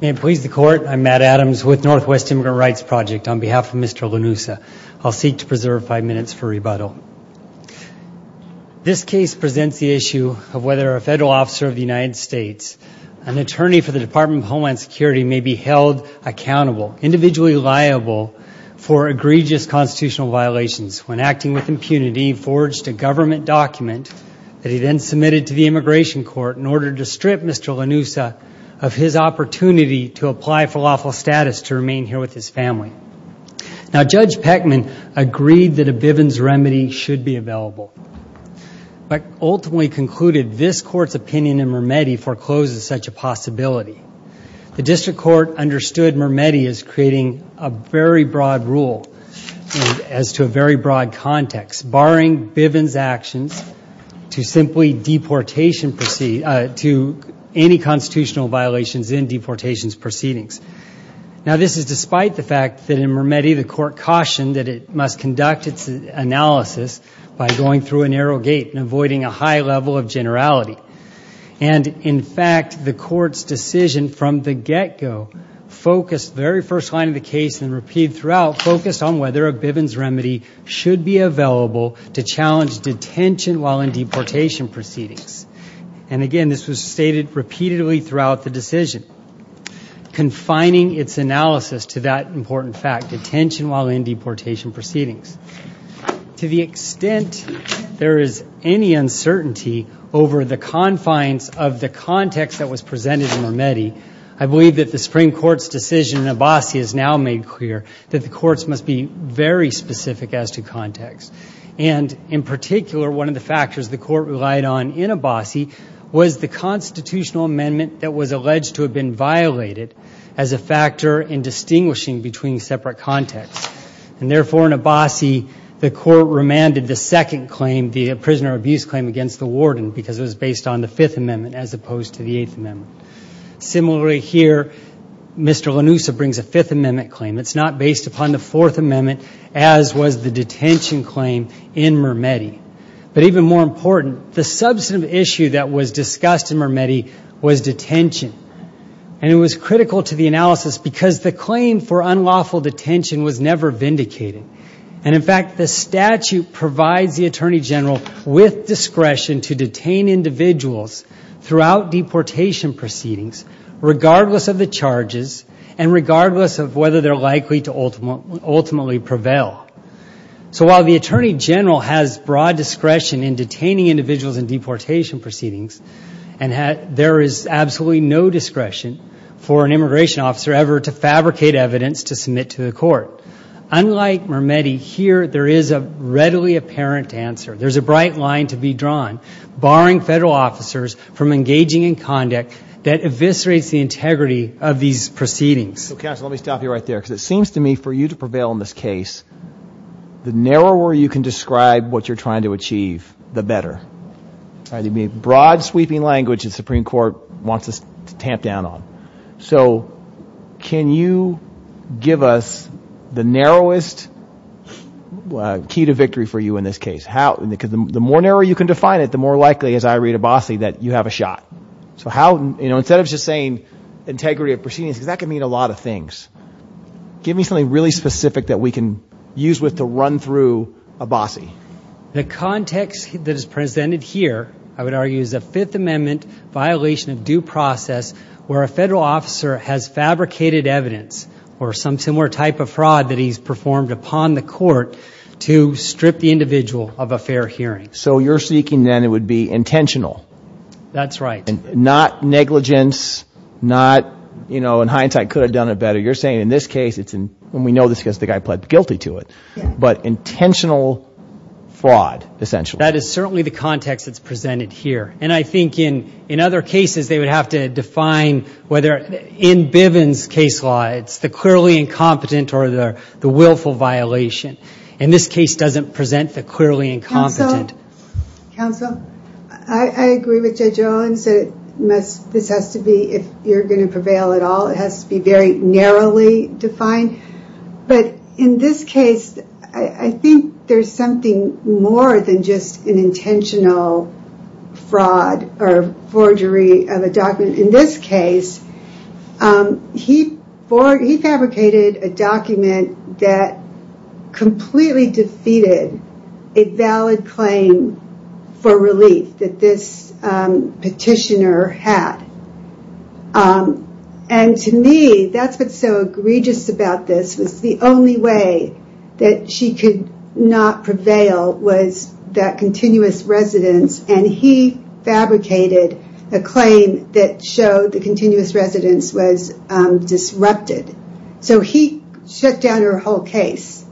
May it please the Court, I'm Matt Adams with Northwest Immigrant Rights Project. On behalf of Mr. Lanuza, I'll seek to preserve five minutes for rebuttal. This case presents the issue of whether a federal officer of the United States, an attorney for the Department of Homeland Security, may be held accountable, individually liable, for egregious constitutional violations when, acting with impunity, forged a government document that he then submitted to the Immigration Court in order to strip Mr. Lanuza of his opportunity to apply for lawful status to remain here with his family. Judge Peckman agreed that a Bivens remedy should be available, but ultimately concluded this Court's opinion in Mermetti forecloses such a possibility. The District Court understood Mermetti as creating a very broad rule as to a very broad context, barring Bivens' actions to simply deportation proceedings, to any constitutional violations in deportations proceedings. Now this is despite the fact that in Mermetti the Court cautioned that it must conduct its analysis by going through a narrow gate and avoiding a high level of generality. And in fact, the Court's decision from the get-go focused, the very first line of the to challenge detention while in deportation proceedings. And again, this was stated repeatedly throughout the decision, confining its analysis to that important fact, detention while in deportation proceedings. To the extent there is any uncertainty over the confines of the context that was presented in Mermetti, I believe that the Supreme Court's decision in Abbasi has now made clear that the Courts must be very specific as to context. And in particular, one of the factors the Court relied on in Abbasi was the constitutional amendment that was alleged to have been violated as a factor in distinguishing between separate contexts. And therefore, in Abbasi, the Court remanded the second claim, the prisoner abuse claim against the warden because it was based on the Fifth Amendment as opposed to the Eighth Amendment. Similarly, here, Mr. Lanusa brings a Fifth Amendment claim. It's not based upon the Fourth Amendment as was the detention claim in Mermetti. But even more important, the substantive issue that was discussed in Mermetti was detention. And it was critical to the analysis because the claim for unlawful detention was never vindicated. And in fact, the statute provides the Attorney General with discretion to detain individuals throughout deportation proceedings, regardless of the charges, and regardless of whether they're likely to ultimately prevail. So while the Attorney General has broad discretion in detaining individuals in deportation proceedings, and there is absolutely no discretion for an immigration officer ever to fabricate evidence to submit to the Court, unlike Mermetti, here there is a readily apparent answer. There's a bright line to be drawn, barring federal officers from engaging in conduct that eviscerates the integrity of these proceedings. So counsel, let me stop you right there. Because it seems to me for you to prevail in this case, the narrower you can describe what you're trying to achieve, the better. There'd be a broad sweeping language the Supreme Court wants us to tamp down on. So can you give us the narrowest key to victory for you in this case? The more narrow you can define it, the more likely, as I read Abbasi, that you have a shot. So how, you know, instead of just saying integrity of proceedings, because that can mean a lot of things, give me something really specific that we can use to run through Abbasi. The context that is presented here, I would argue, is a Fifth Amendment violation of due process where a federal officer has fabricated evidence, or some similar type of fraud that he's performed upon the Court, to strip the individual of a fair hearing. So you're seeking then it would be intentional. That's right. Not negligence, not, you know, in hindsight could have done it better. You're saying in this case, when we know this case, the guy pled guilty to it. But intentional fraud, essentially. That is certainly the context that's presented here. And I think in other cases they would have to define whether, in Bivens' case law, it's the clearly incompetent or the willful violation. And this case doesn't present the clearly incompetent. Counsel, I agree with Judge Owens that this has to be, if you're going to prevail at all, it has to be very narrowly defined. But in this case, I think there's something more than just an intentional fraud or forgery of a document. In this case, he fabricated a document that completely defeated a valid claim for relief that this petitioner had. And to me, that's what's so egregious about this, was the only way that she could not prevail was that continuous residence. And he fabricated a claim that showed that continuous residence was disrupted. So he shut down her whole case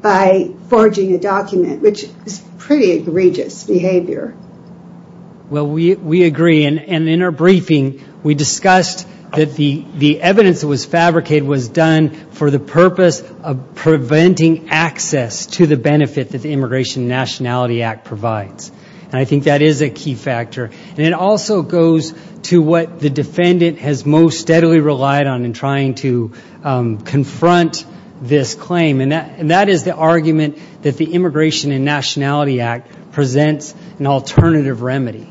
by forging a document, which is pretty egregious behavior. Well, we agree. And in our briefing, we discussed that the evidence that was fabricated was done for the purpose of preventing access to the benefit that the Immigration and Nationality Act provides. And I think that is a key factor. And it also goes to what the defendant has most steadily relied on in trying to confront this claim. And that is the argument that the Immigration and Nationality Act presents an alternative remedy.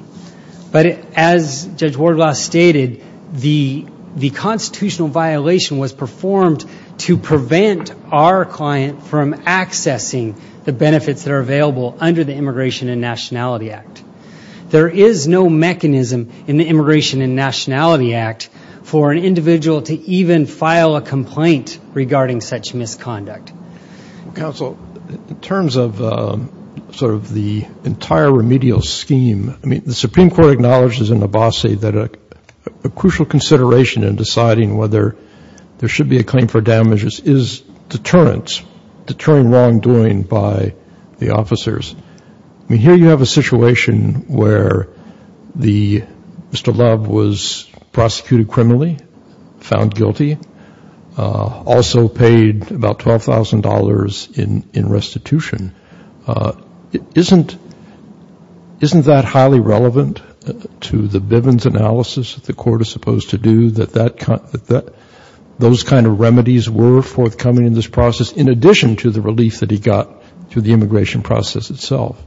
But as Judge Wardlaw stated, the constitutional violation was performed to prevent our client from accessing the benefits that are available under the Immigration and Nationality Act. There is no mechanism in the Immigration and Nationality Act for an individual to even file a complaint regarding such misconduct. Counsel, in terms of sort of the entire remedial scheme, I mean, the Supreme Court acknowledges in Abbasi that a crucial consideration in deciding whether there should be a claim for deterring wrongdoing by the officers. I mean, here you have a situation where Mr. Love was prosecuted criminally, found guilty, also paid about $12,000 in restitution. Isn't that highly relevant to the Bivens analysis that the court is supposed to do, that those kind of remedies were forthcoming in this process? In addition to the relief that he got through the immigration process itself.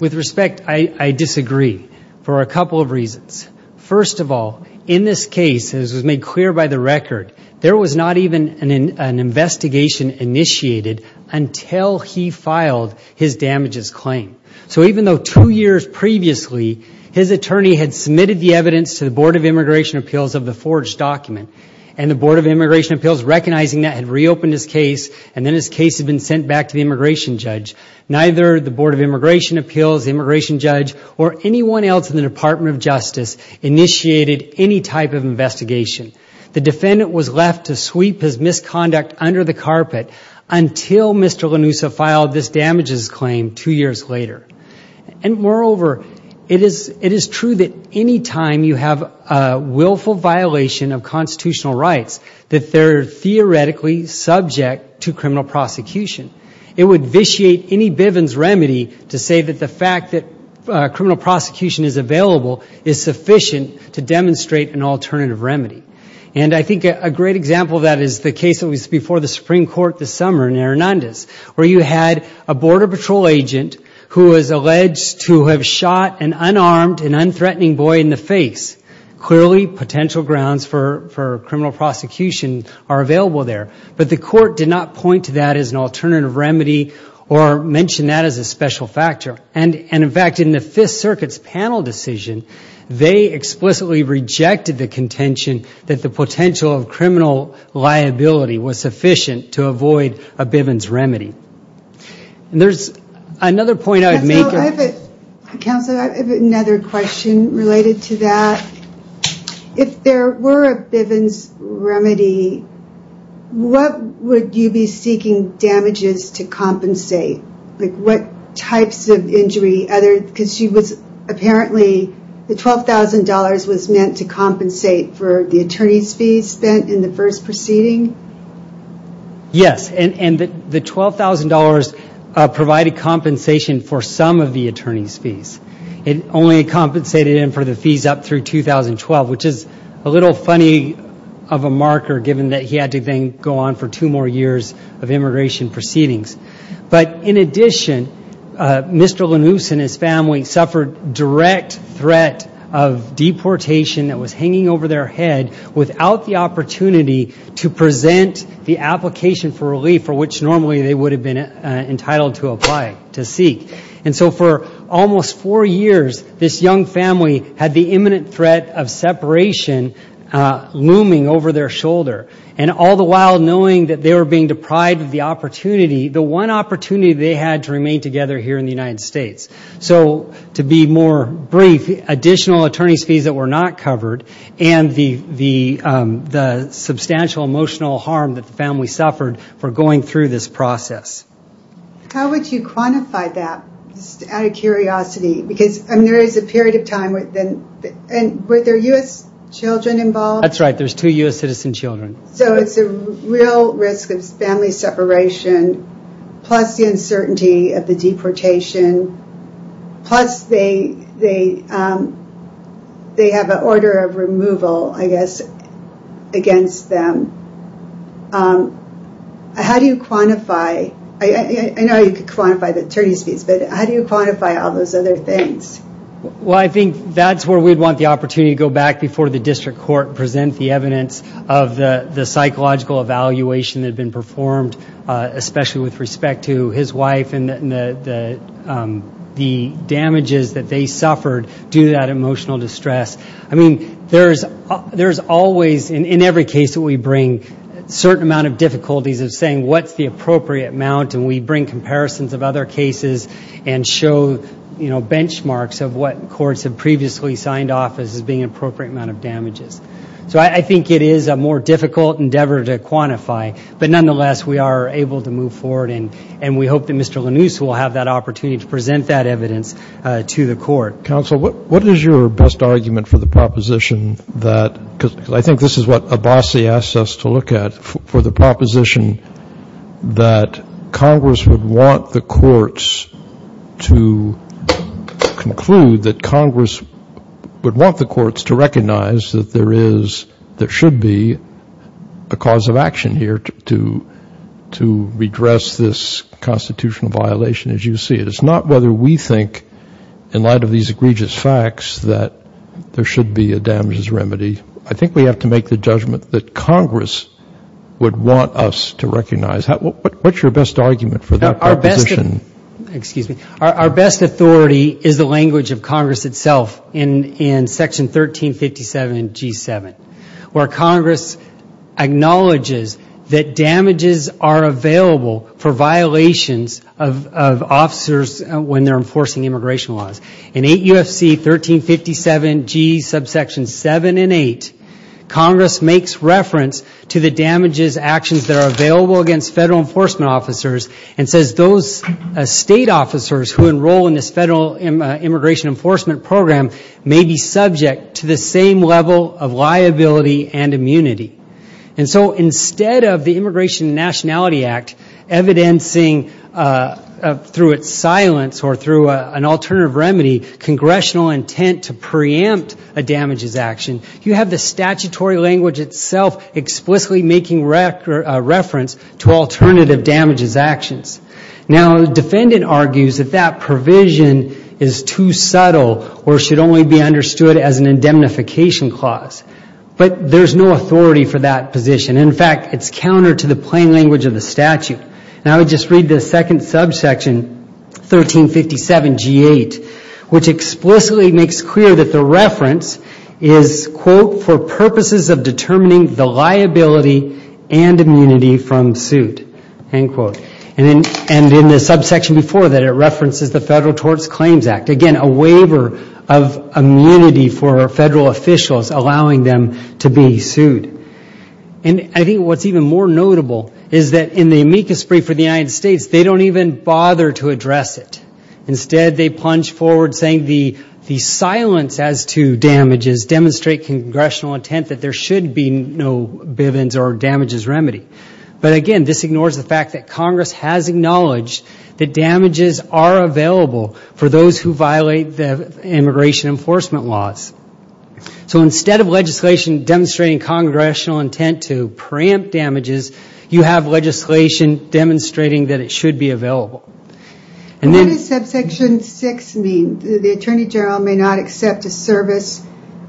With respect, I disagree for a couple of reasons. First of all, in this case, as was made clear by the record, there was not even an investigation initiated until he filed his damages claim. So even though two years previously his attorney had submitted the evidence to the Board of Immigration Appeals of the forged document, and the Board of Immigration Appeals, recognizing that, had reopened his case, and then his case had been sent back to the immigration judge. Neither the Board of Immigration Appeals, the immigration judge, or anyone else in the Department of Justice initiated any type of investigation. The defendant was left to sweep his misconduct under the carpet until Mr. Lanusa filed this damages claim two years later. And moreover, it is true that any time you have a willful violation of constitutional rights, that they're theoretically subject to criminal prosecution. It would vitiate any Bivens remedy to say that the fact that criminal prosecution is available is sufficient to demonstrate an alternative remedy. And I think a great example of that is the case that was before the Supreme Court this summer in Hernandez, where you had a border patrol agent who was alleged to have shot an unarmed and unthreatening boy in the face. Clearly, potential grounds for criminal prosecution are available there. But the court did not point to that as an alternative remedy or mention that as a special factor. And in fact, in the Fifth Circuit's panel decision, they explicitly rejected the contention that the potential of criminal liability was sufficient to avoid a Bivens remedy. And there's another point I would make. Counselor, I have another question related to that. If there were a Bivens remedy, what would you be seeking damages to compensate? Like what types of injury? Because apparently the $12,000 was meant to compensate for the attorney's fees spent in the first proceeding. Yes, and the $12,000 provided compensation for some of the attorney's fees. It only compensated him for the fees up through 2012, which is a little funny of a marker given that he had to then go on for two more years of immigration proceedings. But in addition, Mr. Lanous and his family suffered direct threat of deportation that was hanging over their head without the opportunity to present the application for relief for which normally they would have been entitled to apply, to seek. And so for almost four years, this young family had the imminent threat of separation looming over their shoulder. And all the while knowing that they were being deprived of the opportunity, the one opportunity they had to remain together here in the United States. So to be more brief, additional attorney's fees that were not covered and the substantial emotional harm that the family suffered for going through this process. How would you quantify that out of curiosity? Because there is a period of time, and were there U.S. children involved? That's right, there's two U.S. citizen children. So it's a real risk of family separation plus the uncertainty of the deportation plus they have an order of removal, I guess, against them. How do you quantify, I know you could quantify the attorney's fees, but how do you quantify all those other things? Well, I think that's where we'd want the opportunity to go back before the district court and present the evidence of the psychological evaluation that had been performed, especially with respect to his wife and the damages that they suffered due to that emotional distress. I mean, there's always, in every case that we bring, certain amount of difficulties of saying what's the appropriate amount, and we bring comparisons of other cases and show, you know, benchmarks of what courts have previously signed off as being an appropriate amount of damages. But nonetheless, we are able to move forward, and we hope that Mr. Lanouse will have that opportunity to present that evidence to the court. Counsel, what is your best argument for the proposition that, because I think this is what Abbasi asked us to look at, for the proposition that Congress would want the courts to conclude that Congress would want the courts to recognize that there is, there should be, a cause of action here to redress this constitutional violation, as you see it. It's not whether we think, in light of these egregious facts, that there should be a damages remedy. I think we have to make the judgment that Congress would want us to recognize. What's your best argument for that proposition? Our best authority is the language of Congress itself in Section 1357G7, where Congress acknowledges that damages are available for violations of officers when they're enforcing immigration laws. In 8 U.F.C. 1357G7 and 8, Congress makes reference to the damages actions that are available against federal enforcement officers and says those state officers who enroll in this federal immigration enforcement program may be subject to the same level of liability and immunity. And so instead of the Immigration and Nationality Act evidencing, through its silence or through an alternative remedy, congressional intent to preempt a damages action, you have the statutory language itself explicitly making reference to alternative damages actions. Now, the defendant argues that that provision is too subtle or should only be understood as an indemnification clause. But there's no authority for that position. In fact, it's counter to the plain language of the statute. And I would just read the second subsection, 1357G8, which explicitly makes clear that the reference is, quote, for purposes of determining the liability and immunity from suit, end quote. And in the subsection before that, it references the Federal Tort Claims Act. Again, a waiver of immunity for federal officials allowing them to be sued. And I think what's even more notable is that in the amicus brief for the United States, they don't even bother to address it. Instead, they plunge forward saying the silence as to damages demonstrate congressional intent that there should be no Bivens or damages remedy. But again, this ignores the fact that Congress has acknowledged that damages are available for those who violate the immigration enforcement laws. So instead of legislation demonstrating congressional intent to preempt damages, you have legislation demonstrating that it should be available. And then... What does subsection 6 mean? The Attorney General may not accept a service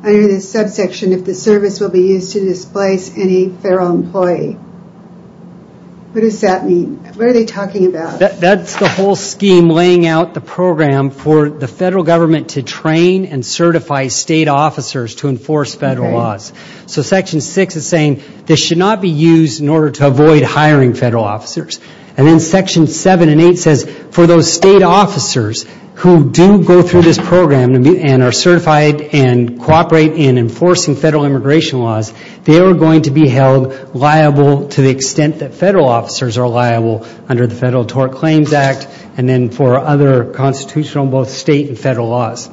under the subsection if the service will be used to displace any federal employee. What does that mean? What are they talking about? That's the whole scheme laying out the program for the federal government to train and certify state officers to enforce federal laws. So section 6 is saying this should not be used in order to avoid hiring federal officers. And then section 7 and 8 says for those state officers who do go through this program and are certified and cooperate in enforcing federal immigration laws, they are going to be held liable to the extent that federal officers are liable under the Federal Tort Claims Act and then for other constitutional, both state and federal laws.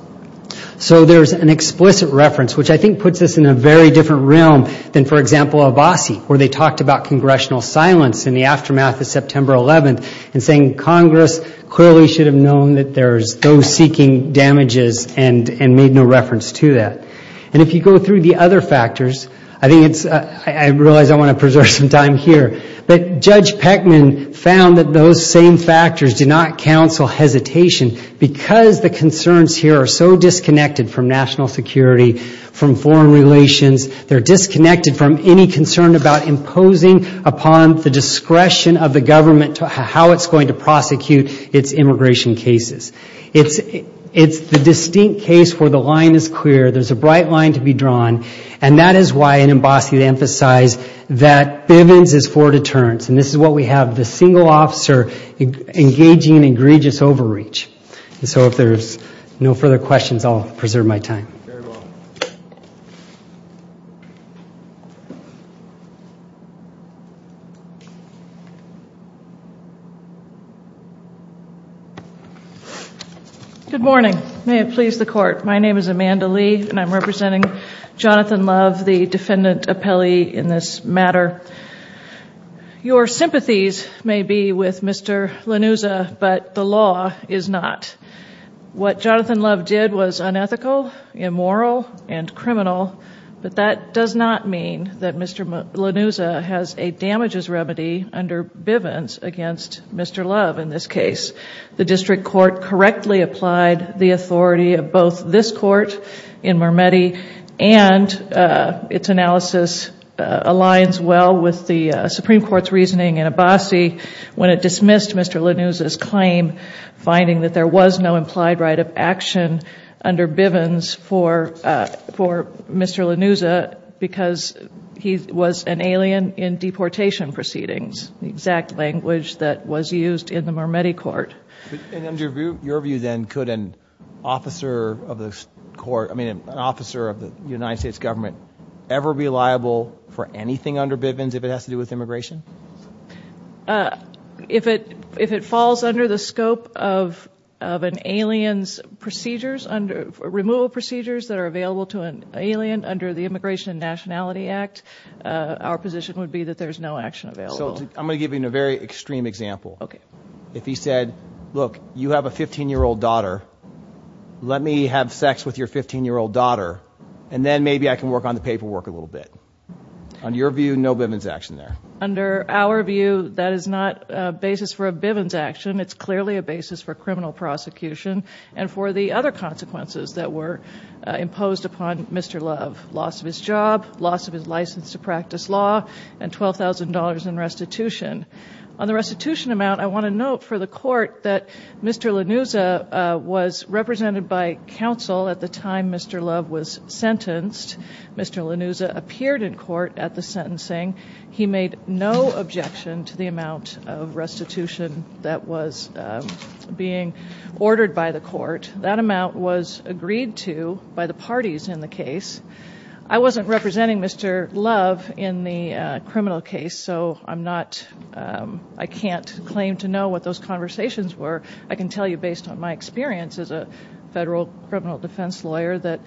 So there's an explicit reference, which I think puts us in a very different realm than, for example, Abbasi, where they talked about congressional silence in the aftermath of September 11th and saying Congress clearly should have known that there's those seeking damages and made no reference to that. And if you go through the other factors, I think it's... I realize I want to preserve some time here, but Judge Peckman found that those same factors do not counsel hesitation because the concerns here are so disconnected from national security, from foreign relations, they're disconnected from any concern about imposing upon the discretion of the government how it's going to prosecute its immigration cases. It's the distinct case where the line is clear, there's a bright line to be drawn, and that is why in Abbasi they emphasize that Bivens is for deterrence. And this is what we have, the single officer engaging in egregious overreach. So if there's no further questions, I'll preserve my time. Thank you very much. Good morning. May it please the Court. My name is Amanda Lee, and I'm representing Jonathan Love, the defendant appellee in this matter. Your sympathies may be with Mr. Lanuza, but the law is not. What Jonathan Love did was unethical, immoral, and criminal, but that does not mean that Mr. Lanuza has a damages remedy under Bivens against Mr. Love in this case. The district court correctly applied the authority of both this court in Marmetti and its analysis aligns well with the Supreme Court's reasoning finding that there was no implied right of action under Bivens for Mr. Lanuza because he was an alien in deportation proceedings, the exact language that was used in the Marmetti court. In your view then, could an officer of the United States government ever be liable for anything under Bivens if it has to do with immigration? If it falls under the scope of an alien's removal procedures that are available to an alien under the Immigration and Nationality Act, our position would be that there's no action available. So I'm going to give you a very extreme example. If he said, look, you have a 15-year-old daughter, let me have sex with your 15-year-old daughter, and then maybe I can work on the paperwork a little bit. On your view, no Bivens action there? For our view, that is not a basis for a Bivens action. It's clearly a basis for criminal prosecution and for the other consequences that were imposed upon Mr. Love. Loss of his job, loss of his license to practice law, and $12,000 in restitution. On the restitution amount, I want to note for the court that Mr. Lanuza was represented by counsel at the time Mr. Love was sentenced. Mr. Lanuza appeared in court at the sentencing. He made no objection to the amount of restitution that was being ordered by the court. That amount was agreed to by the parties in the case. I wasn't representing Mr. Love in the criminal case, so I can't claim to know what those conversations were. I can tell you based on my experience as a federal criminal defense lawyer that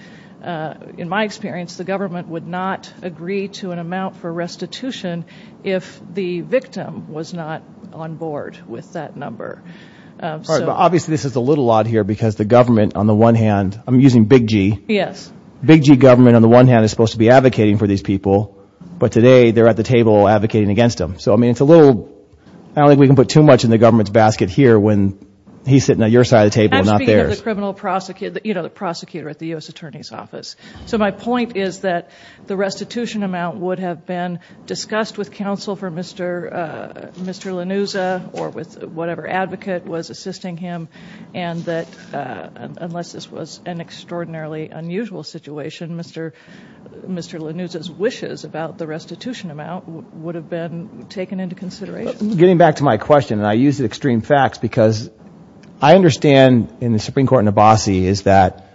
in my experience the government would not agree to an amount for restitution if the victim was not on board with that number. Obviously this is a little odd here because the government on the one hand, I'm using big G, big G government on the one hand is supposed to be advocating for these people, but today they're at the table advocating against them. I don't think we can put too much in the government's basket here when he's sitting at your side of the table and not theirs. He's the prosecutor at the U.S. Attorney's Office. So my point is that the restitution amount would have been discussed with counsel for Mr. Lanuza or with whatever advocate was assisting him, and that unless this was an extraordinarily unusual situation, Mr. Lanuza's wishes about the restitution amount would have been taken into consideration. Getting back to my question, and I use the extreme facts, because I understand in the Supreme Court in Abbasi is that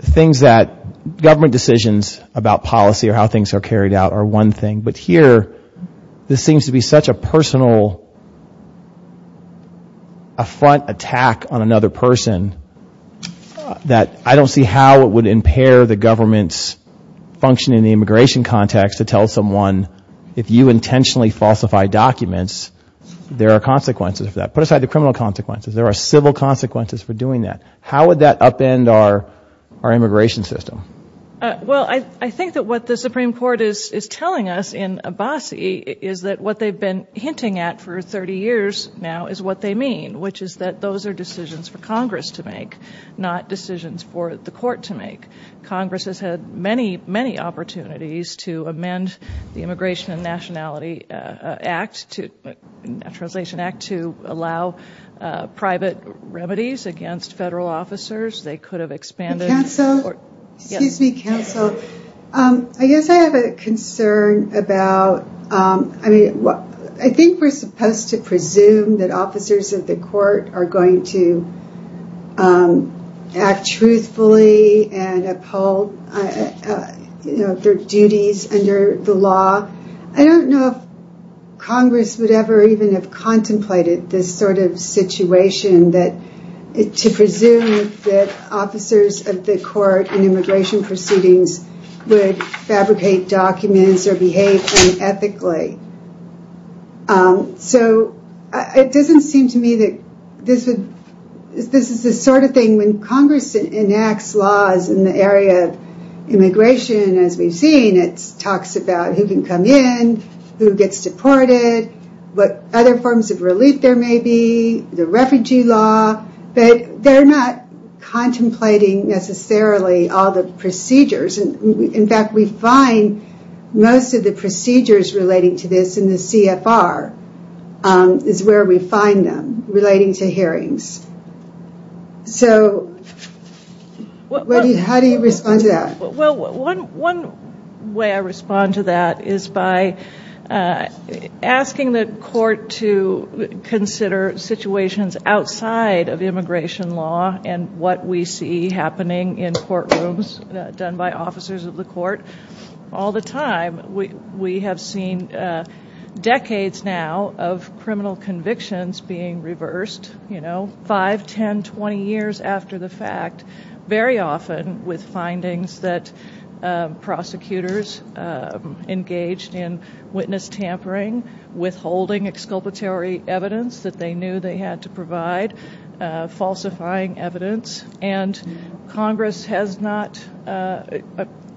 things that government decisions about policy or how things are carried out are one thing, but here this seems to be such a personal affront attack on another person that I don't see how it would impair the government's function in the immigration context to tell someone if you intentionally falsify documents, there are consequences for that. There are legal consequences. There are civil consequences for doing that. How would that upend our immigration system? Well, I think that what the Supreme Court is telling us in Abbasi is that what they've been hinting at for 30 years now is what they mean, which is that those are decisions for Congress to make, not decisions for the court to make. Congress has had many, many opportunities to amend the Immigration and Nationality Act, the Naturalization Act, to allow private remedies against federal officers. They could have expanded... Excuse me, counsel. I guess I have a concern about... I mean, I think we're supposed to presume that officers of the court are going to act truthfully and uphold their duties under the law. I don't know if Congress would ever even have contemplated this sort of situation to presume that officers of the court in immigration proceedings would fabricate documents or behave unethically. So it doesn't seem to me that this is the sort of thing... When Congress enacts laws in the area of immigration, as we've seen, it talks about who can come in, who gets deported, what other forms of relief there may be, the refugee law, but they're not contemplating necessarily all the procedures. In fact, we find most of the procedures relating to this in the CFR is where we find them relating to hearings. So how do you respond to that? Well, one way I respond to that is by asking the court to consider situations outside of immigration law and what we see happening in courtrooms done by officers of the court. All the time, we have seen decades now of criminal convictions being reversed, five, ten, twenty years after the fact, very often with findings that prosecutors engaged in witness tampering, withholding exculpatory evidence that they knew they had to provide, falsifying evidence, and Congress has not...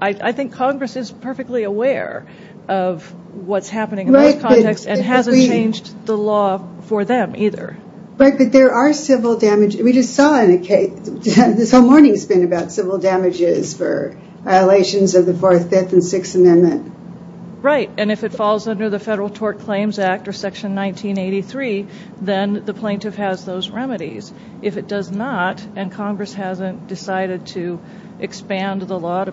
I think Congress is perfectly aware of what's happening in that context and hasn't changed the law for them either. But there are civil damages, we just saw in a case, this whole morning has been about civil damages for violations of the Fourth, Fifth, and Sixth Amendment. Right, and if it falls under the Federal Tort Claims Act or Section 1983, then the plaintiff has those remedies. If it does not, and Congress hasn't decided to expand the law to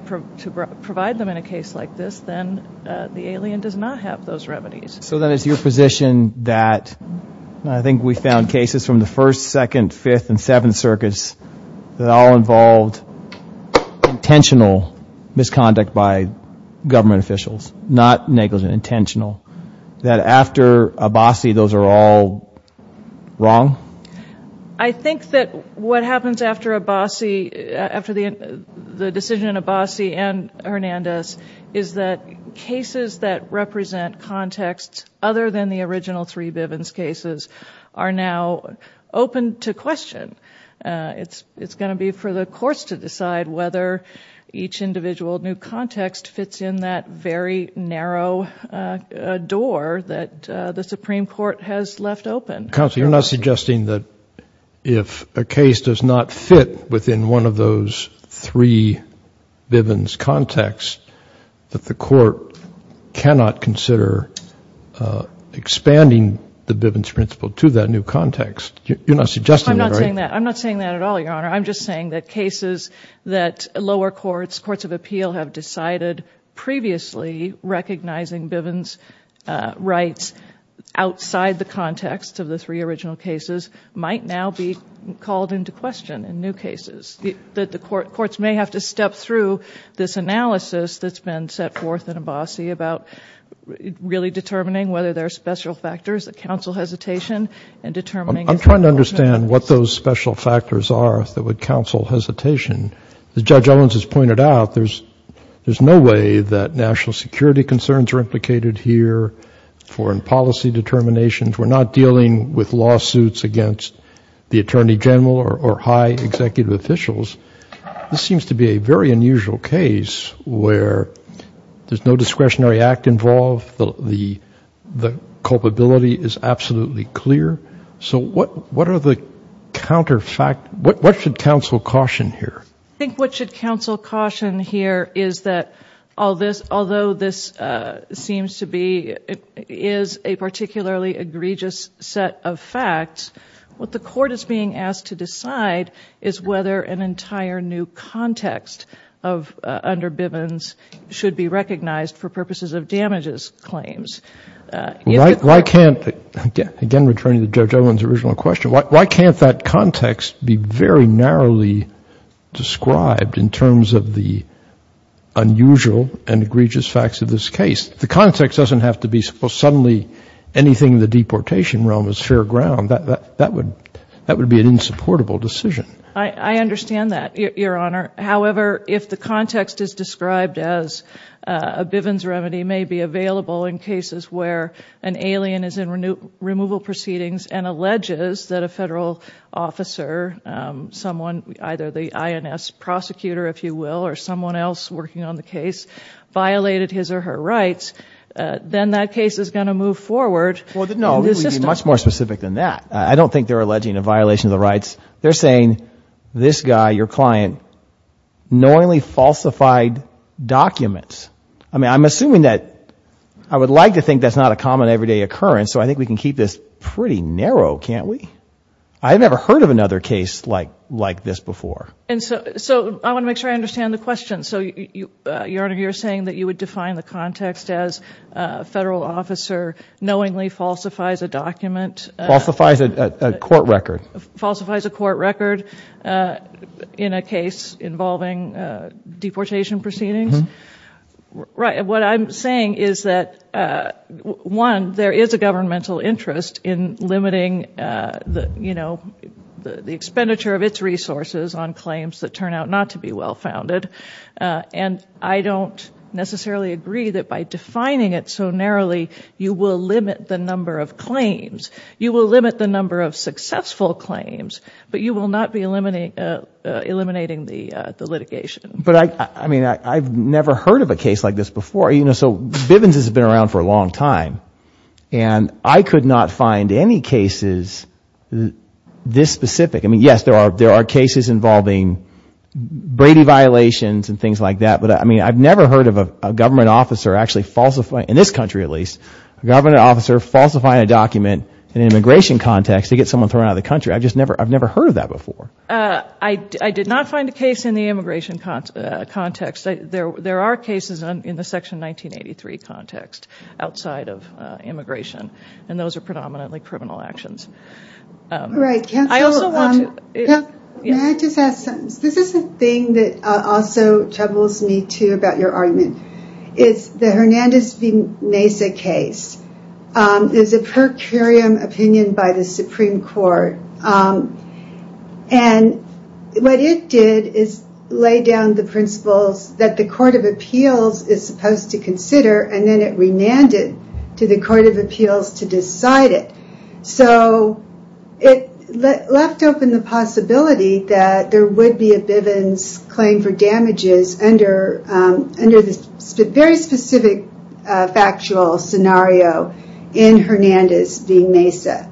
provide them in a case like this, then the alien does not have those remedies. So then it's your position that, and I think we found cases from the First, Second, Fifth, and Seventh Circuits that all involved intentional misconduct by government officials, not negligent, intentional. That after Abassi, those are all wrong? I think that what happens after Abassi, after the decision in Abassi and Hernandez, is that cases that represent contexts other than the original three Bivens cases are now open to question. It's going to be for the courts to decide whether each individual new context fits in that very narrow door that the Supreme Court has left open. Counsel, you're not suggesting that if a case does not fit within one of those three Bivens contexts, that the court cannot consider expanding the Bivens principle to that new context. You're not suggesting that, right? I'm not saying that. I'm not saying that at all, Your Honor. I'm just saying that cases that lower courts, courts of appeal, have decided previously recognizing Bivens rights outside the context of the three original cases might now be called into question in new cases. That the courts may have to step through this analysis that's been set forth in Abassi about really determining whether there are special factors that counsel hesitation and determining... I'm trying to understand what those special factors are that would counsel hesitation. As Judge Owens has pointed out, there's no way that national security concerns are implicated here, foreign policy determinations. We're not dealing with lawsuits against the attorney general or high executive officials. This seems to be a very unusual case where there's no discretionary act involved. The culpability is absolutely clear. So what are the counterfact... What should counsel caution here? I think what should counsel caution here is that all this, this seems to be... is a particularly egregious set of facts. What the court is being asked to decide is whether an entire new context under Bivens should be recognized for purposes of damages claims. Why can't... Again, returning to Judge Owens' original question, why can't that context be very narrowly described in terms of the unusual and egregious facts of Bivens in terms of this case? The context doesn't have to be suddenly anything in the deportation realm is fair ground. That would be an insupportable decision. I understand that, Your Honor. However, if the context is described as a Bivens remedy may be available in cases where an alien is in removal proceedings and alleges that a federal officer, someone, either the INS prosecutor, if you will, or someone else working on the case has violated her rights, then that case is going to move forward... Well, no, we'd be much more specific than that. I don't think they're alleging a violation of the rights. They're saying this guy, your client, knowingly falsified documents. I mean, I'm assuming that... I would like to think that's not a common everyday occurrence, so I think we can keep this pretty narrow, can't we? I've never heard of another case like this before. And so I want to make sure I understand the question. So, Your Honor, you're saying that you would define the context as a federal officer knowingly falsifies a document... Falsifies a court record. Falsifies a court record in a case involving deportation proceedings. Right. What I'm saying is that, one, there is a governmental interest in limiting the expenditure of its resources on claims that turn out not to be well-founded. And I don't necessarily agree that by defining it so narrowly, you will limit the number of claims. You will limit the number of successful claims, but you will not be eliminating the litigation. But, I mean, I've never heard of a case like this before. You know, so Bivens has been around for a long time, and I could not find any cases this specific. I mean, yes, there are cases involving Brady violations and things like that. But, I mean, I've never heard of a government officer actually falsifying, in this country at least, a government officer falsifying a document in an immigration context to get someone thrown out of the country. I've just never heard of that before. I did not find a case in the immigration context. There are cases in the Section 1983 context outside of immigration, and those are predominantly criminal actions. Right. I also want to... May I just add something? This also troubles me, too, about your argument. It's the Hernandez v. Mesa case. It's a per curiam opinion by the Supreme Court. And what it did is lay down the principles that the Court of Appeals is supposed to consider, and then it remanded to the Court of Appeals to decide it. So, it left open the possibility that there would be a Bivens claim for damages under the very specific factual scenario in Hernandez v. Mesa.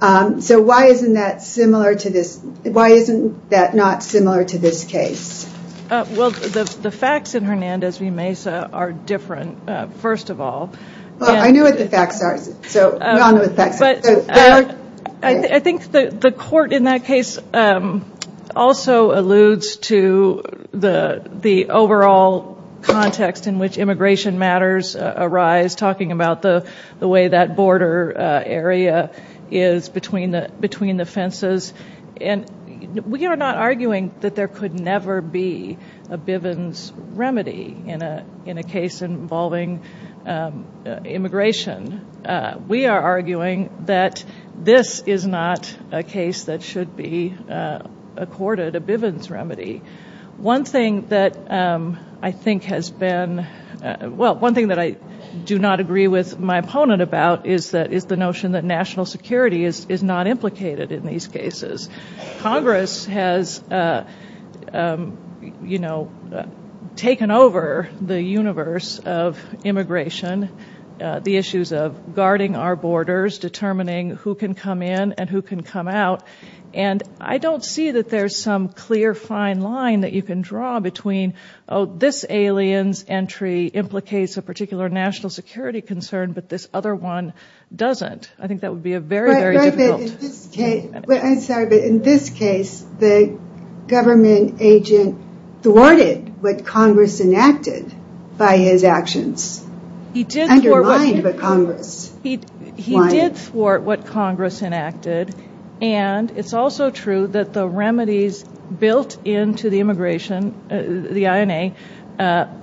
So, why isn't that similar to this... Why isn't that not similar to this case? Well, the facts in Hernandez v. Mesa are different, first of all. Well, I know what the facts are. So, we all know what the facts are. But I think the court in that case also alludes to the overall context in which immigration matters arise, talking about the way that border area is between the fences. And we are not arguing that there could never be a Bivens remedy in a case involving immigration. We are arguing that this is not a case that should be accorded a Bivens remedy. One thing that I think has been... Well, one thing that I do not agree with my opponent about is the notion that national security is not implicated in these cases. Congress has, you know, taken over the universe of immigration, the issues of guarding our borders, determining who can come in and who can come out. And I don't see that there's some clear, fine line that you can draw between, oh, this alien's entry implicates a particular national security concern, but this other one doesn't. I think that would be a very, very difficult... I'm sorry, but in this case, the government agent thwarted what Congress enacted by his actions. He did thwart what Congress enacted. And it's also true that the remedies built into the immigration, the INA,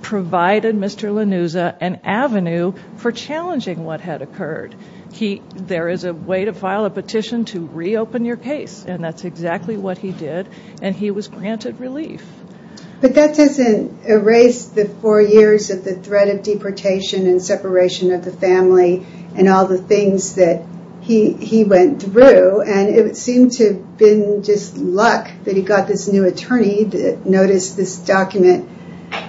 provided Mr. Lanuza an avenue for challenging what had occurred. There is a way to file a petition to reopen your case, and that's exactly what he did, and he was granted relief. But that doesn't erase the four years of the threat of deportation and separation of the family and all the things that he went through. And it seemed to have been just luck that he got this new attorney that noticed this document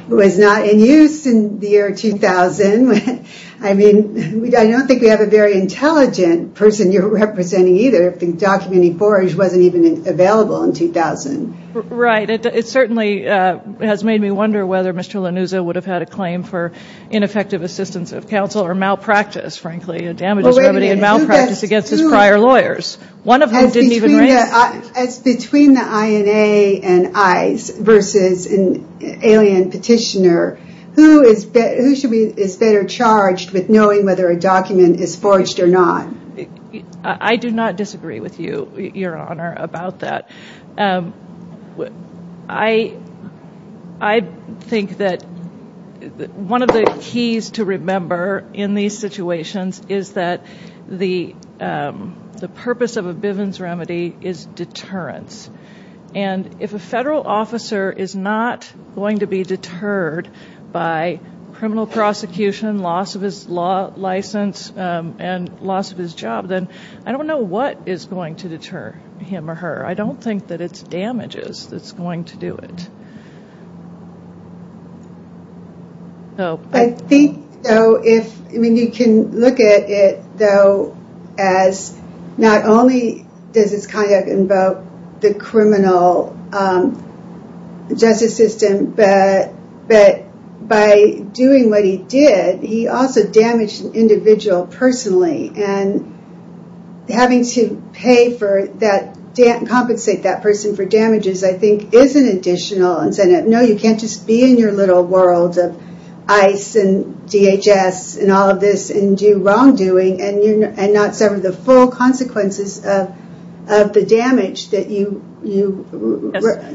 was not in use in the year 2000. I mean, I don't think we have a very intelligent person you're representing either if the document he forged wasn't even available in 2000. Right. It certainly has made me wonder whether Mr. Lanuza would have had a claim for ineffective assistance of counsel or malpractice, frankly, a damages remedy and malpractice against his prior lawyers. As between the INA and ICE versus an alien petitioner, who is better charged with knowing whether a document is forged or not? I do not disagree with you, Your Honor, about that. I think that one of the keys to remember in these situations is that the purpose of a Bivens remedy is deterrence. And if a federal officer is not going to be deterred by criminal prosecution, loss of his law license and loss of his job, then I don't know what is going to deter him or her. I don't think that it's damages that's going to do it. No. I think, though, if, I mean, you can look at it, though, as not only does this kind of invoke the criminal justice system, but by doing what he did, he also damaged an individual personally and having to pay for that and compensate that person for damages, I think is an additional incentive. No, you can't just be in your little world of ICE and DHS and all of this and do wrongdoing and not suffer the full consequences of the damage that you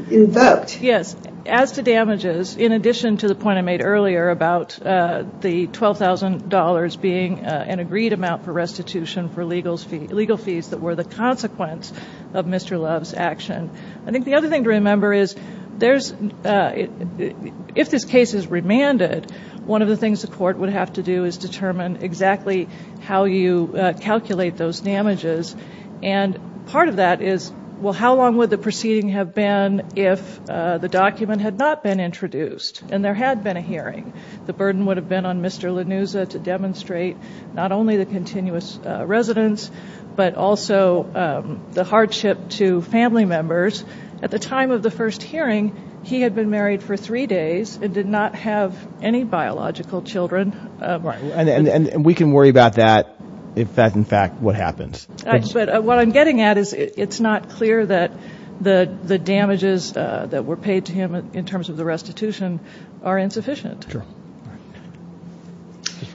invoked. Yes. As to damages, in addition to the point I made earlier about the $12,000 being an agreed amount for restitution for legal fees that were the consequence of Mr. Love's action, I think the other thing to remember is if this case is remanded, one of the things the court would have to do is determine exactly how you calculate those damages. And part of that is, well, how long would the proceeding have been if the document had not been introduced and there had been a hearing? The burden would have been on Mr. Lanuza to demonstrate not only the continuous residence, but also the hardship to family members. At the time of the first hearing, he had been married for three days and did not have any biological children. Right. And we can worry about that, in fact, what happens. But what I'm getting at is it's not clear that the damages that were paid to him in terms of the restitution are insufficient. Sure.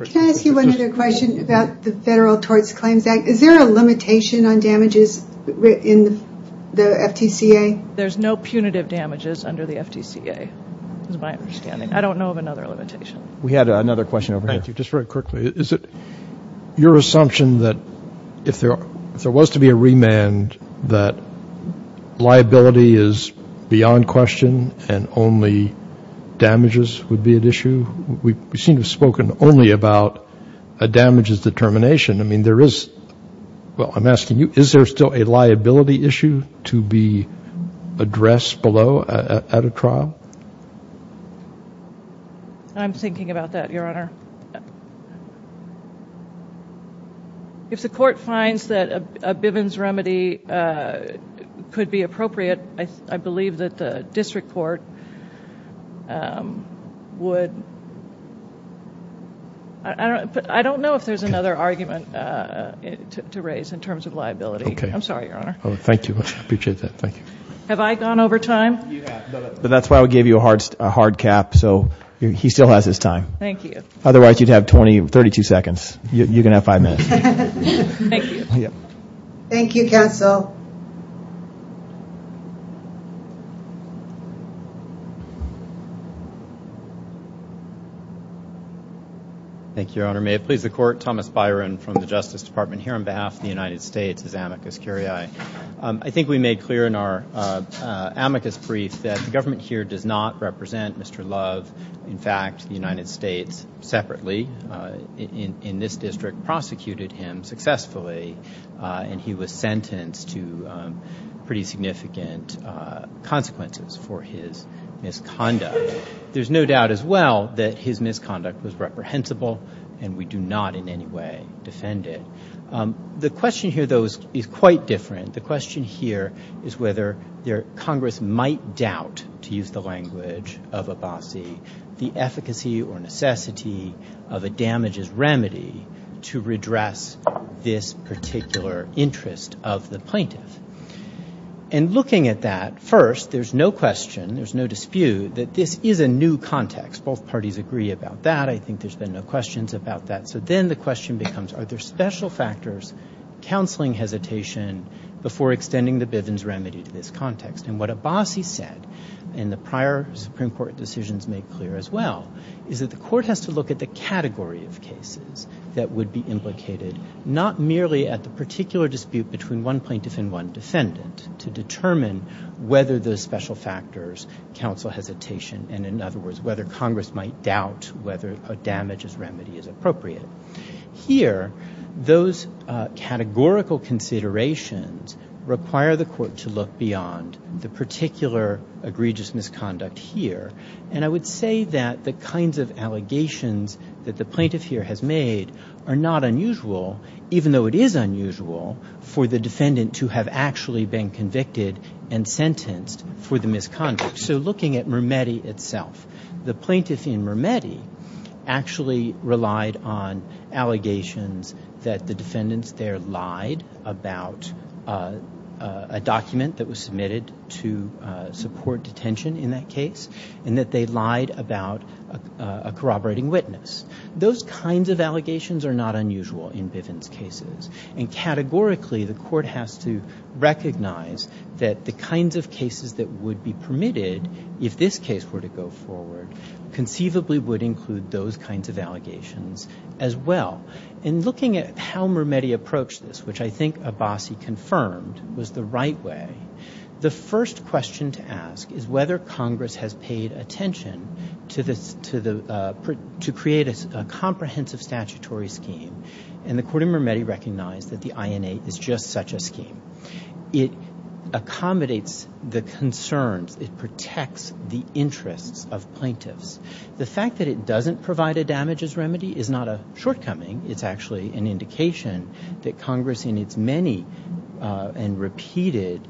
Can I ask you one other question about the Federal Tort Claims Act? Is there a limitation on damages in the FTCA? There's no punitive damages under the FTCA, is my understanding. I don't know of another limitation. We had another question over here. Thank you. Just very quickly, is it your assumption that if there was to be a remand that liability is beyond question and only damages would be at issue? We seem to have spoken only about a damages determination. I mean, there is, well, I'm asking you, is there still a liability issue to be addressed below at a trial? I'm thinking about that, Your Honor. If the court finds that a Bivens remedy could be appropriate, I believe that the District Court would, I don't know if there's another argument to raise in terms of liability. Okay. I'm sorry, Your Honor. Thank you. I appreciate that. Thank you. Have I gone over time? You have, but that's why we gave you a hard cap, so he still has his time. Thank you. Otherwise, you'd have 32 seconds. You can have five minutes. Thank you. Thank you, counsel. Thank you, Your Honor. May it please the court, Thomas Byron from the Justice Department here on behalf of the United States as amicus curiae. I think we made clear in our amicus brief that the government here does not represent Mr. Love. In fact, the United States separately in this district prosecuted him successfully, and he was sentenced to pretty significant consequences for his misconduct. There's no doubt as well that his misconduct was reprehensible, and we do not in any way defend it. The question here, though, is quite different. The question here is whether Congress might doubt, to use the language of Abbasi, the efficacy or necessity of a damages remedy to redress this particular interest of the plaintiff. And looking at that, first, there's no question, there's no dispute that this is a new context. Both parties agree about that. I think there's been no questions about that. So then the question becomes, are there special factors counseling hesitation before extending the Bivens remedy to this context? And what Abbasi said in the prior Supreme Court decisions made clear as well is that the court has to look at the category of cases that would be implicated not merely at the particular dispute between one plaintiff and one defendant to determine whether those special factors counsel hesitation, and in other words, whether Congress might doubt whether a damages remedy is appropriate. Here, those categorical considerations require the court to look beyond the particular egregious misconduct here. And I would say that the kinds of allegations that the plaintiff here has made are not unusual, even though it is unusual for the defendant to have actually been convicted and sentenced for the misconduct. So looking at Mermetti itself, the plaintiff in Mermetti actually relied on allegations that the defendants there lied about a document that was submitted to support detention in that case, and that they lied about a corroborating witness. Those kinds of allegations are not unusual in Bivens cases. And categorically, the court has to recognize that the kinds of cases that would be permitted if this case were to go forward conceivably would include those kinds of allegations as well. In looking at how Mermetti approached this, which I think Abbasi confirmed, was the right way, the first question to ask is whether Congress has paid attention to create a comprehensive statutory scheme. And the court in Mermetti recognized that the INA is just such a scheme. It accommodates the concerns. It protects the interests of plaintiffs. The fact that it doesn't provide a damages remedy is not a shortcoming. It's actually an indication that Congress in its many and repeated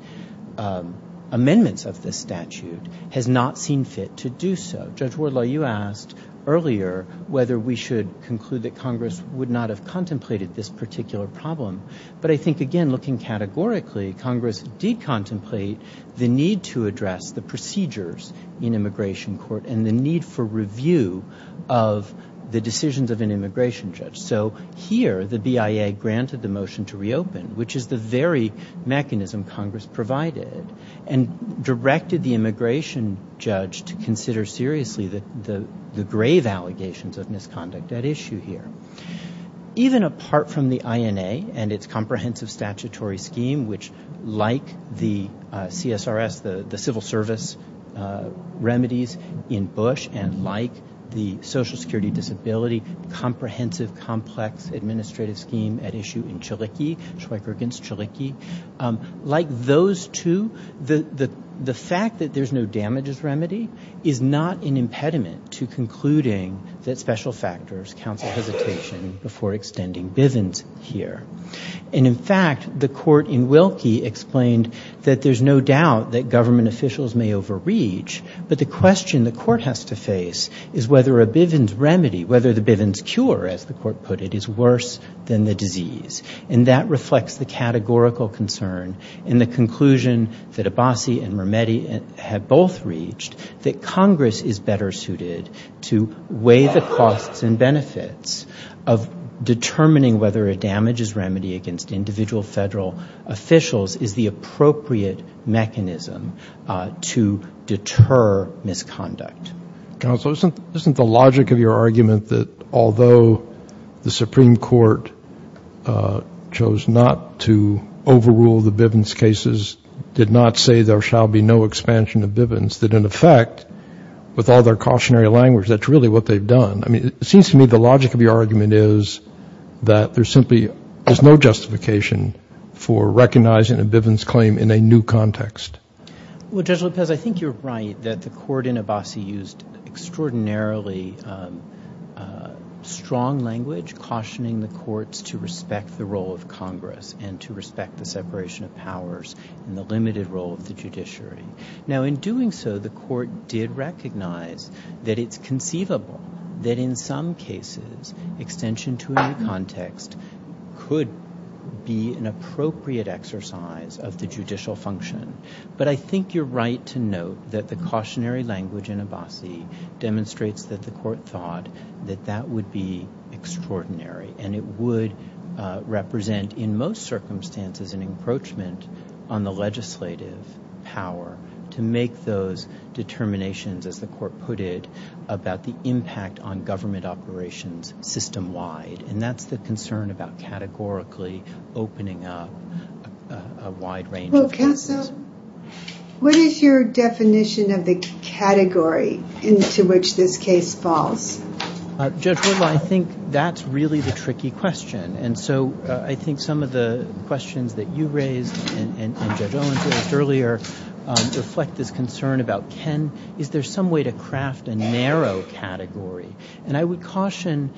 amendments of this statute has not seen fit to do so. Judge Wardlaw, you asked earlier whether we should conclude that Congress would not have contemplated this particular problem. But I think, again, looking categorically, Congress did contemplate the need to address the procedures in immigration court and the need for review of the decisions of an immigration judge. So, here, the BIA granted the motion to reopen, which is the very mechanism Congress provided and directed the immigration judge to consider seriously the grave allegations of misconduct at issue here. Even apart from the INA and its comprehensive statutory scheme, which, like the CSRS, the civil service remedies in Bush and like the social security disability comprehensive, complex, administrative scheme at issue in Chiliki, Schweiker against Chiliki, like those two, the fact that there's no damages remedy is not an impediment to concluding that special factors counsel hesitation before extending Bivens here. And, in fact, the court in Wilkie explained that there's no doubt that government officials may overreach, but the question the court has to face is whether a Bivens remedy, whether the Bivens cure, as the court put it, is worse than the disease. And that reflects the categorical concern in the conclusion that Abbasi and Mermetti have both reached that Congress is better suited to weigh the costs and benefits of determining whether a damages remedy against individual federal officials is the appropriate mechanism to determine her misconduct. Counsel, isn't the logic of your argument that although the Supreme Court chose not to overrule the Bivens cases, did not say there shall be no expansion of Bivens, that, in effect, with all their cautionary language, that's really what they've done? I mean, it seems to me the logic of your argument is that there simply is no justification for recognizing a Bivens claim in a new context. Well, Judge Lopez, I think you're right that the court in Abbasi used extraordinarily strong language cautioning the courts to respect the role of Congress and to respect the separation of powers and the limited role of the judiciary. Now, in doing so, the court did recognize that it's conceivable that in some cases extension to a new context could be an appropriate exercise of the judicial function. But I think you're right to note that the cautionary language in Abbasi demonstrates that the court thought that that would be extraordinary and it would represent, in most circumstances, an encroachment on the legislative power to make those determinations, as the court put it, about the impact on government operations system-wide. And that's the concern about categorically opening up a wide range of cases. Well, Kassam, what is your definition of the category into which this case falls? Judge Whittle, I think that's really the tricky question. And so, I think some of the questions that you raised and Judge Owens raised earlier reflect this concern about, is there some way to craft a narrow category? And I would caution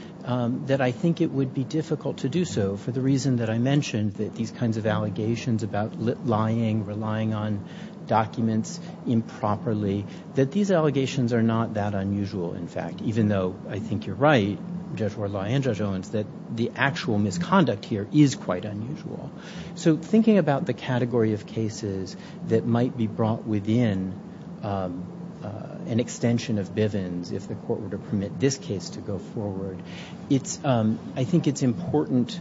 that I think it would be difficult to do so for the reason that I mentioned that these kinds of allegations about lying, relying on documents improperly, that these allegations are not that unusual, in fact, even though I think you're right, Judge Whittle and Judge Owens, that the actual misconduct here is quite unusual. So, thinking about the category of cases that might be brought within an extension of Bivens, if the court were to permit this case to go forward, it's, I think it's important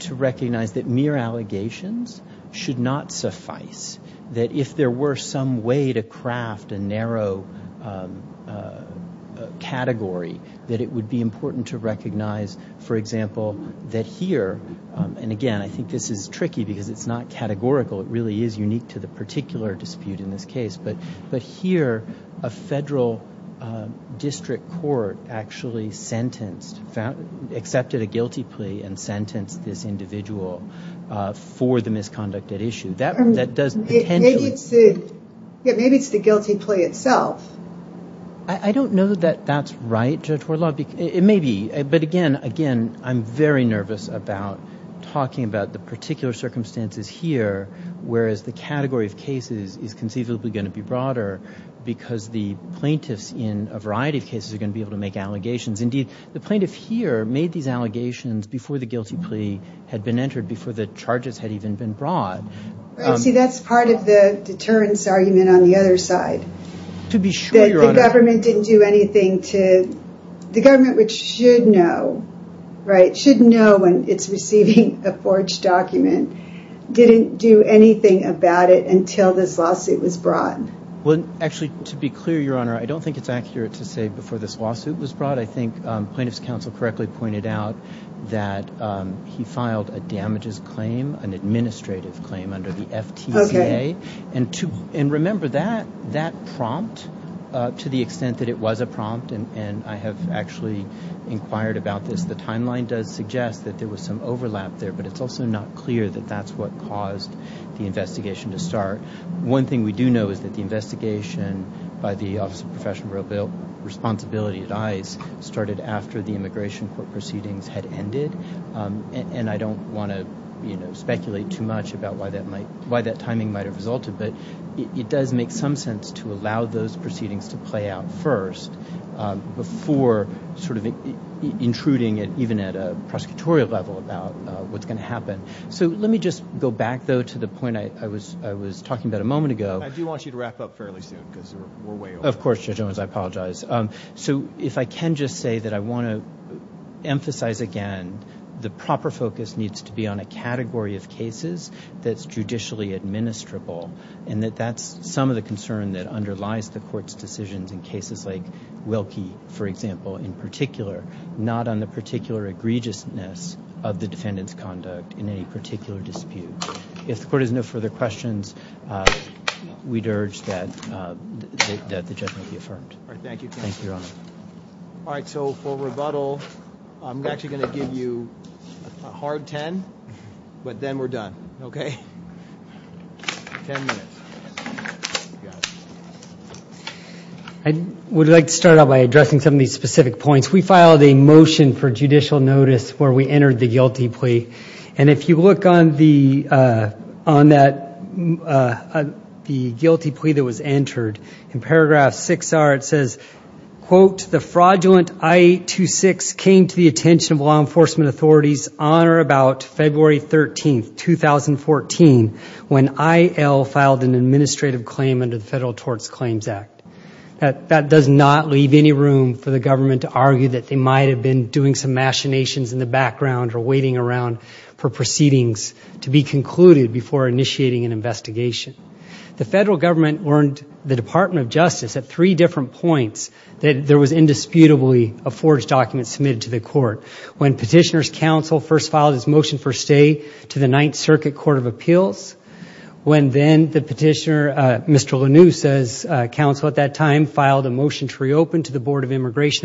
to recognize that mere allegations should not suffice that if there were some way to craft a narrow category that it would be important to recognize, for example, that here, and again, I think this is tricky because it's not categorical, it really is unique to the particular dispute in this case, but here, a federal district court actually sentenced, accepted a guilty plea and sentenced this individual for the misconduct at issue. That does potentially... Maybe it's the guilty plea itself. I don't know that that's right, Judge Wardlaw, it may be, but again, I'm very nervous about talking about the particular circumstances here, whereas the category of cases is conceivably going to be broader because the plaintiffs in a variety of cases are going to be able to make allegations. Indeed, the plaintiff here made these allegations before the guilty plea had been entered, before the charges had even been brought. See, that's part of the deterrence argument on the other side. To be sure, Your Honor. The government didn't do anything to... The government, which should know, right, should know when it's receiving a forged document, didn't do anything about it until this lawsuit was brought. Well, actually, to be clear, Your Honor, I don't think it's accurate to say before this lawsuit was brought. I think plaintiff's counsel correctly pointed out that he filed a damages claim, an administrative claim under the FTCA. Okay. And remember, that prompt, to the extent that it was a prompt, and I have actually inquired about this, the timeline does suggest that there was some overlap there, but it's also not clear One thing we do know is that the investigation by the Office of Professional Responsibility at ICE started after the immigration case was brought. So, I don't think that the immigration court proceedings had ended, and I don't want to speculate too much about why that timing might have resulted, but it does make some sense to allow those proceedings to play out first, before sort of intruding even at a prosecutorial level about what's going to happen. So, let me just go back, though, to the point I was talking about a moment ago. I do want you to wrap up fairly soon, because we're way over. Of course, Judge Owens, I apologize. So, if I can just say that I want to emphasize again the proper focus needs to be on a category of cases that's judicially administrable, and that that's some of the concern that underlies the court's decisions in cases like Wilkie, for example, in particular, not on the particular egregiousness of the defendant's conduct in any particular dispute. If the court has no further questions, we'd urge that the judgment be affirmed. Thank you, Your Honor. All right, so, for rebuttal, I'm actually going to give you a hard 10, but then we're done, okay? Ten minutes. I would like to start out by addressing some of these specific points. We filed a motion for judicial notice where we found that the guilty plea that was entered in paragraph 6R, it says, quote, the fraudulent I-826 came to the attention of authorities on or about February 13th, 2014, when IL filed an administrative claim under the Federal Torts Claims Act. That does not leave any room for the government to argue that they might have been doing some machinations in the background or waiting around for proceedings to be concluded before initiating an investigation. The federal government warned the Department of Justice at three different points that there was indisputably a forged document submitted to the court. When petitioner's counsel first filed his motion for immigration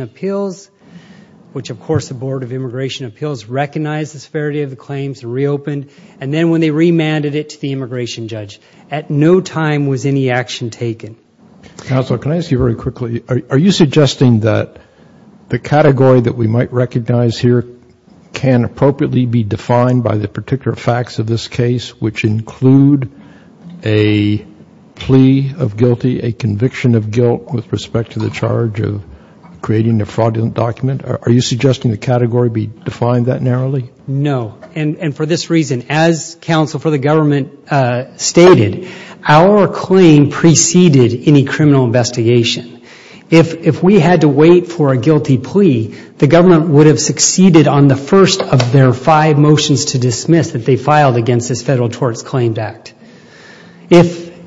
appeals, which, of course, the Board of Immigration Appeals recognized the claims and reopened, and then when they remanded it to the immigration judge, at no time was any action taken. Are you suggesting that the category that we might recognize here can appropriately be defined by the particular facts of this case, which include a plea of guilty, a conviction of guilt with respect to the charge of creating a fraudulent document? Are you suggesting the category be defined that narrowly? No. And for this reason, as counsel for the government stated, our claim preceded any criminal investigation. If we had to wait for a guilty plea, the government would have succeeded on the first of their five motions to dismiss that they filed against this federal torts claimed act.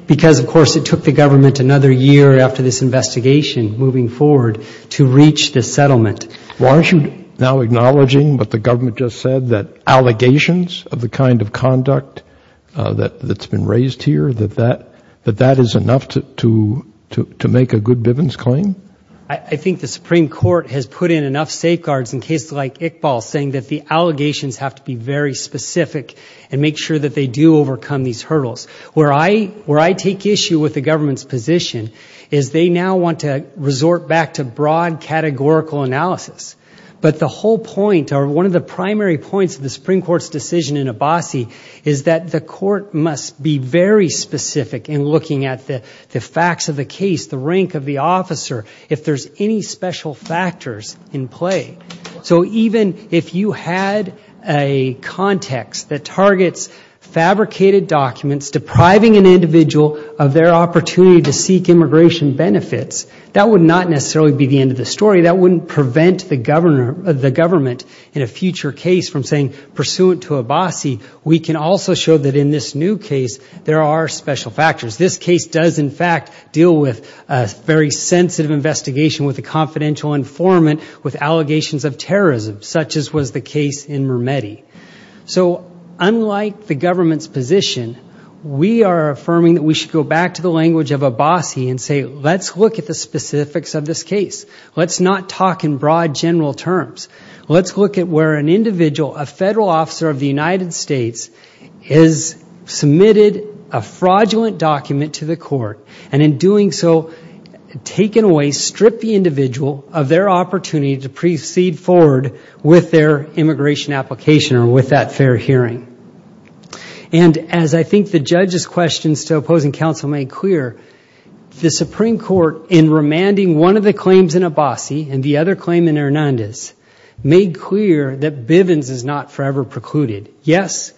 Because, of course, it took the government another year after this investigation moving forward to reach this settlement. Well, aren't you now acknowledging what the government just said, that allegations of the kind of conduct that's been raised here, that that is enough to make a good Bivens claim? I think the Supreme Court has put in enough safeguards in cases like Iqbal saying that the allegations have to be very specific. You know, one of the primary points of the Supreme Court's decision in Abbasi is that the court must be very specific in looking at the facts of the case, the rank of the officer, if there's any special factors in play. So even if you had a context that targets in a future case from saying pursuant to Abbasi, we can also show this new case, there are special factors. This case does, in fact, deal with a very sensitive investigation with a confidential informant with allegations of terrorism such as was the case in Abbasi, where an individual, a federal officer of the United States, has submitted a fraudulent document to the court and in doing so taken away, stripped the individual of their opportunity to proceed forward with their immigration application or with that fair hearing. And as I think the judge's questions to opposing counsel made clear, the Supreme Court, in remanding one of the claims in Abbasi and the other claim in Hernandez, made clear that Bivens is not forever precluded. Yes,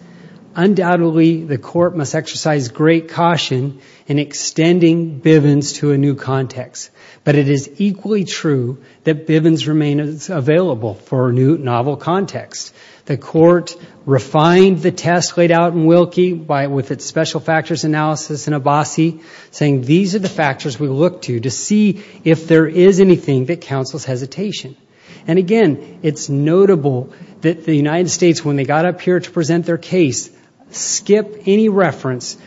undoubtedly, the court must exercise great caution in extending Bivens to a new context, but it is equally true that Bivens remains available for a new novel context. The court refined the test laid out in Wilkie with its special factors analysis in Abbasi saying these are the factors we look to to see if there is anything that counsel's hesitation. And again, it's notable that the United States, when they got up here to present their case, skipped any special factors.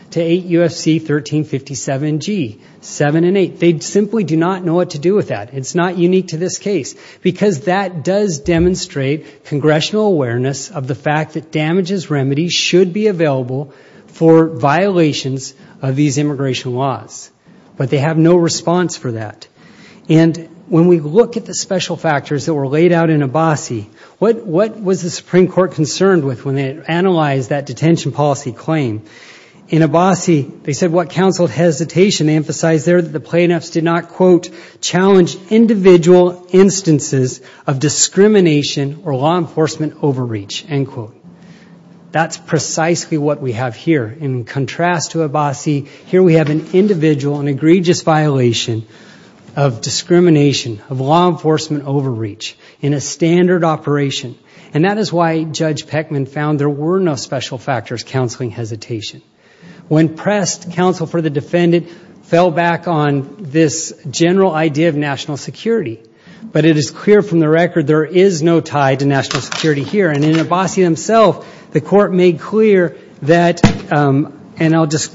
And that does demonstrate congressional awareness of the fact that damages remedy should be available for violations of these immigration laws. But they have no response for that. And when we look at the special factors that were laid out in Abbasi, what was the Supreme Court that said there should be individual instances of discrimination or law enforcement overreach, end quote. That's precisely what we have here. In contrast to Abbasi, here we have an individual and egregious violation of discrimination of law enforcement over national security. But it is clear from the record there is no tie to national security here. And in Abbasi himself, the court made clear that, and I'll just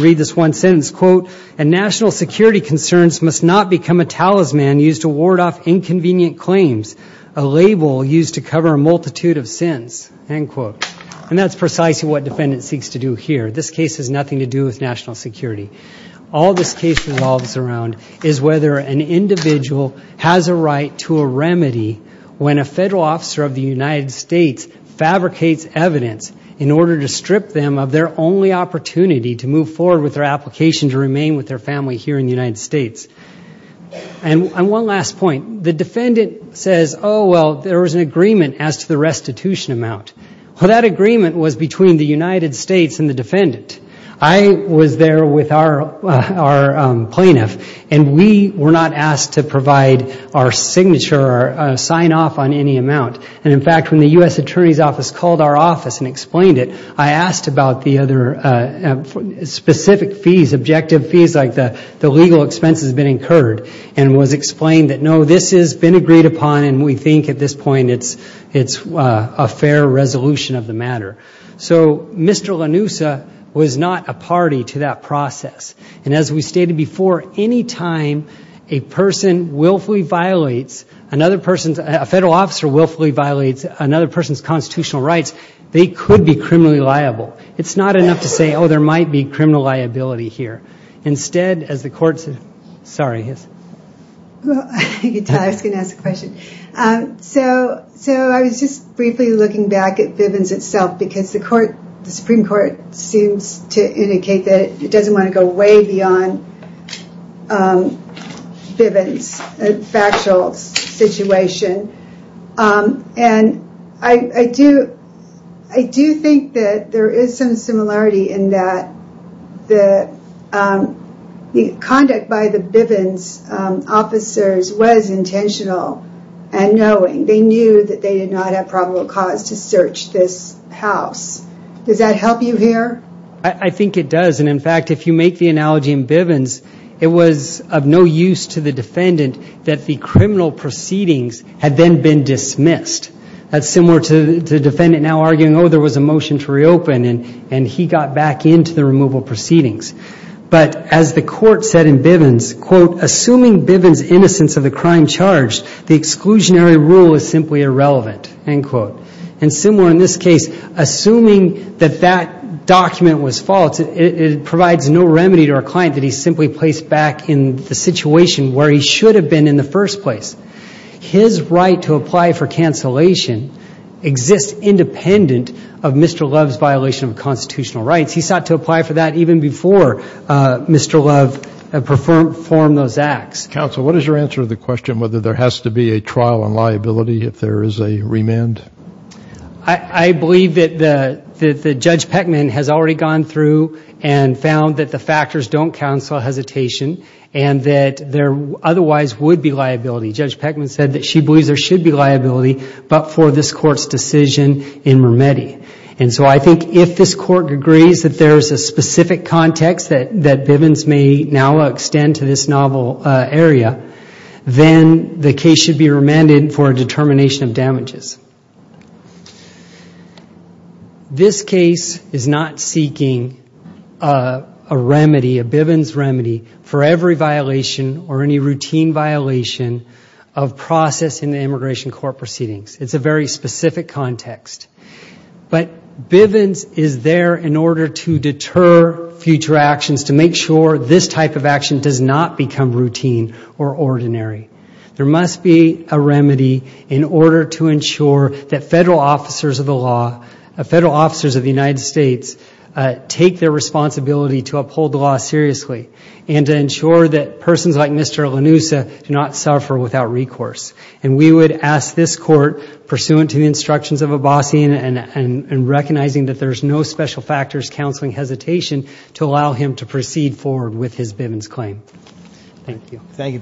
read this one sentence, quote, national security concerns must not become a talisman used to ward off discrimination over national security. The Supreme Court has a right to a remedy when a federal officer of the United States fabricates evidence in order to strip them of their only opportunity to move forward with their application to remain with their family here in the United States. And one last point. The defendant says, oh, well, there was an agreement as to the restitution amount. Well, that agreement was between the United States and the defendant. I was there with our plaintiff, and we were not asked to provide our signature or sign off on any amount. And in fact, when the U.S. Attorney's Office called our office and explained it, I asked about the other specific fees, objective fees, like the legal expenses that have been incurred, and it was explained that, you know, this has been agreed upon, and we think at this point it's a fair resolution of the matter. So Mr. Lanusa was not a party to that process. And as we stated before, any time a person willfully violates another person's constitutional rights, they could be criminally liable. It's not enough to say, oh, there might be criminal liability here. Instead, as the courts, sorry. I was going to ask a question. So I was just briefly looking back at Bivens itself, because the Supreme Court seems to indicate that it doesn't want to go way beyond Bivens' factual situation. And I do think that there is some similarity in that the conduct by the Bivens officers was intentional and knowing. They knew that they did not have probable cause to search this house. Does that help you here? I think it does. In fact, if you make the analogy in Bivens, it was of no use to the defendant that the criminal proceedings had been dismissed. That's similar to the defendant arguing there was a motion to reopen and he got back into the removal proceedings. But as the court said in Bivens, quote, assuming Bivens' innocence of the crime charged, the exclusionary rule is irrelevant, end quote. And similar in this case, assuming that that document was false, it provides no remedy to our situation where he should have been in the first place. His right to apply for cancellation exists independent of Mr. Love's violation of constitutional rights. He sought to apply for that even before Mr. Love performed those acts. Counsel, what is your answer to the question whether there has to be a trial on liability if there is a remand? I believe that Judge Peckman has already gone through and found that the factors don't counsel hesitation and that there otherwise would be liability. Judge Peckman if there is a trial on liability in this area, then the case should be remanded for a determination of damages. This case is not seeking a remedy for every violation or any routine violation of process in the immigration court proceedings. It's a very specific context. But Bivens is there in order to deter future actions to make sure this type of action does not become routine or ordinary. There is no reason that Mr. Lanusa do not suffer without recourse. And we would ask this court pursuant to the instructions of Abbasian and recognizing that there is no special factors counseling hesitation to allow him to you very much.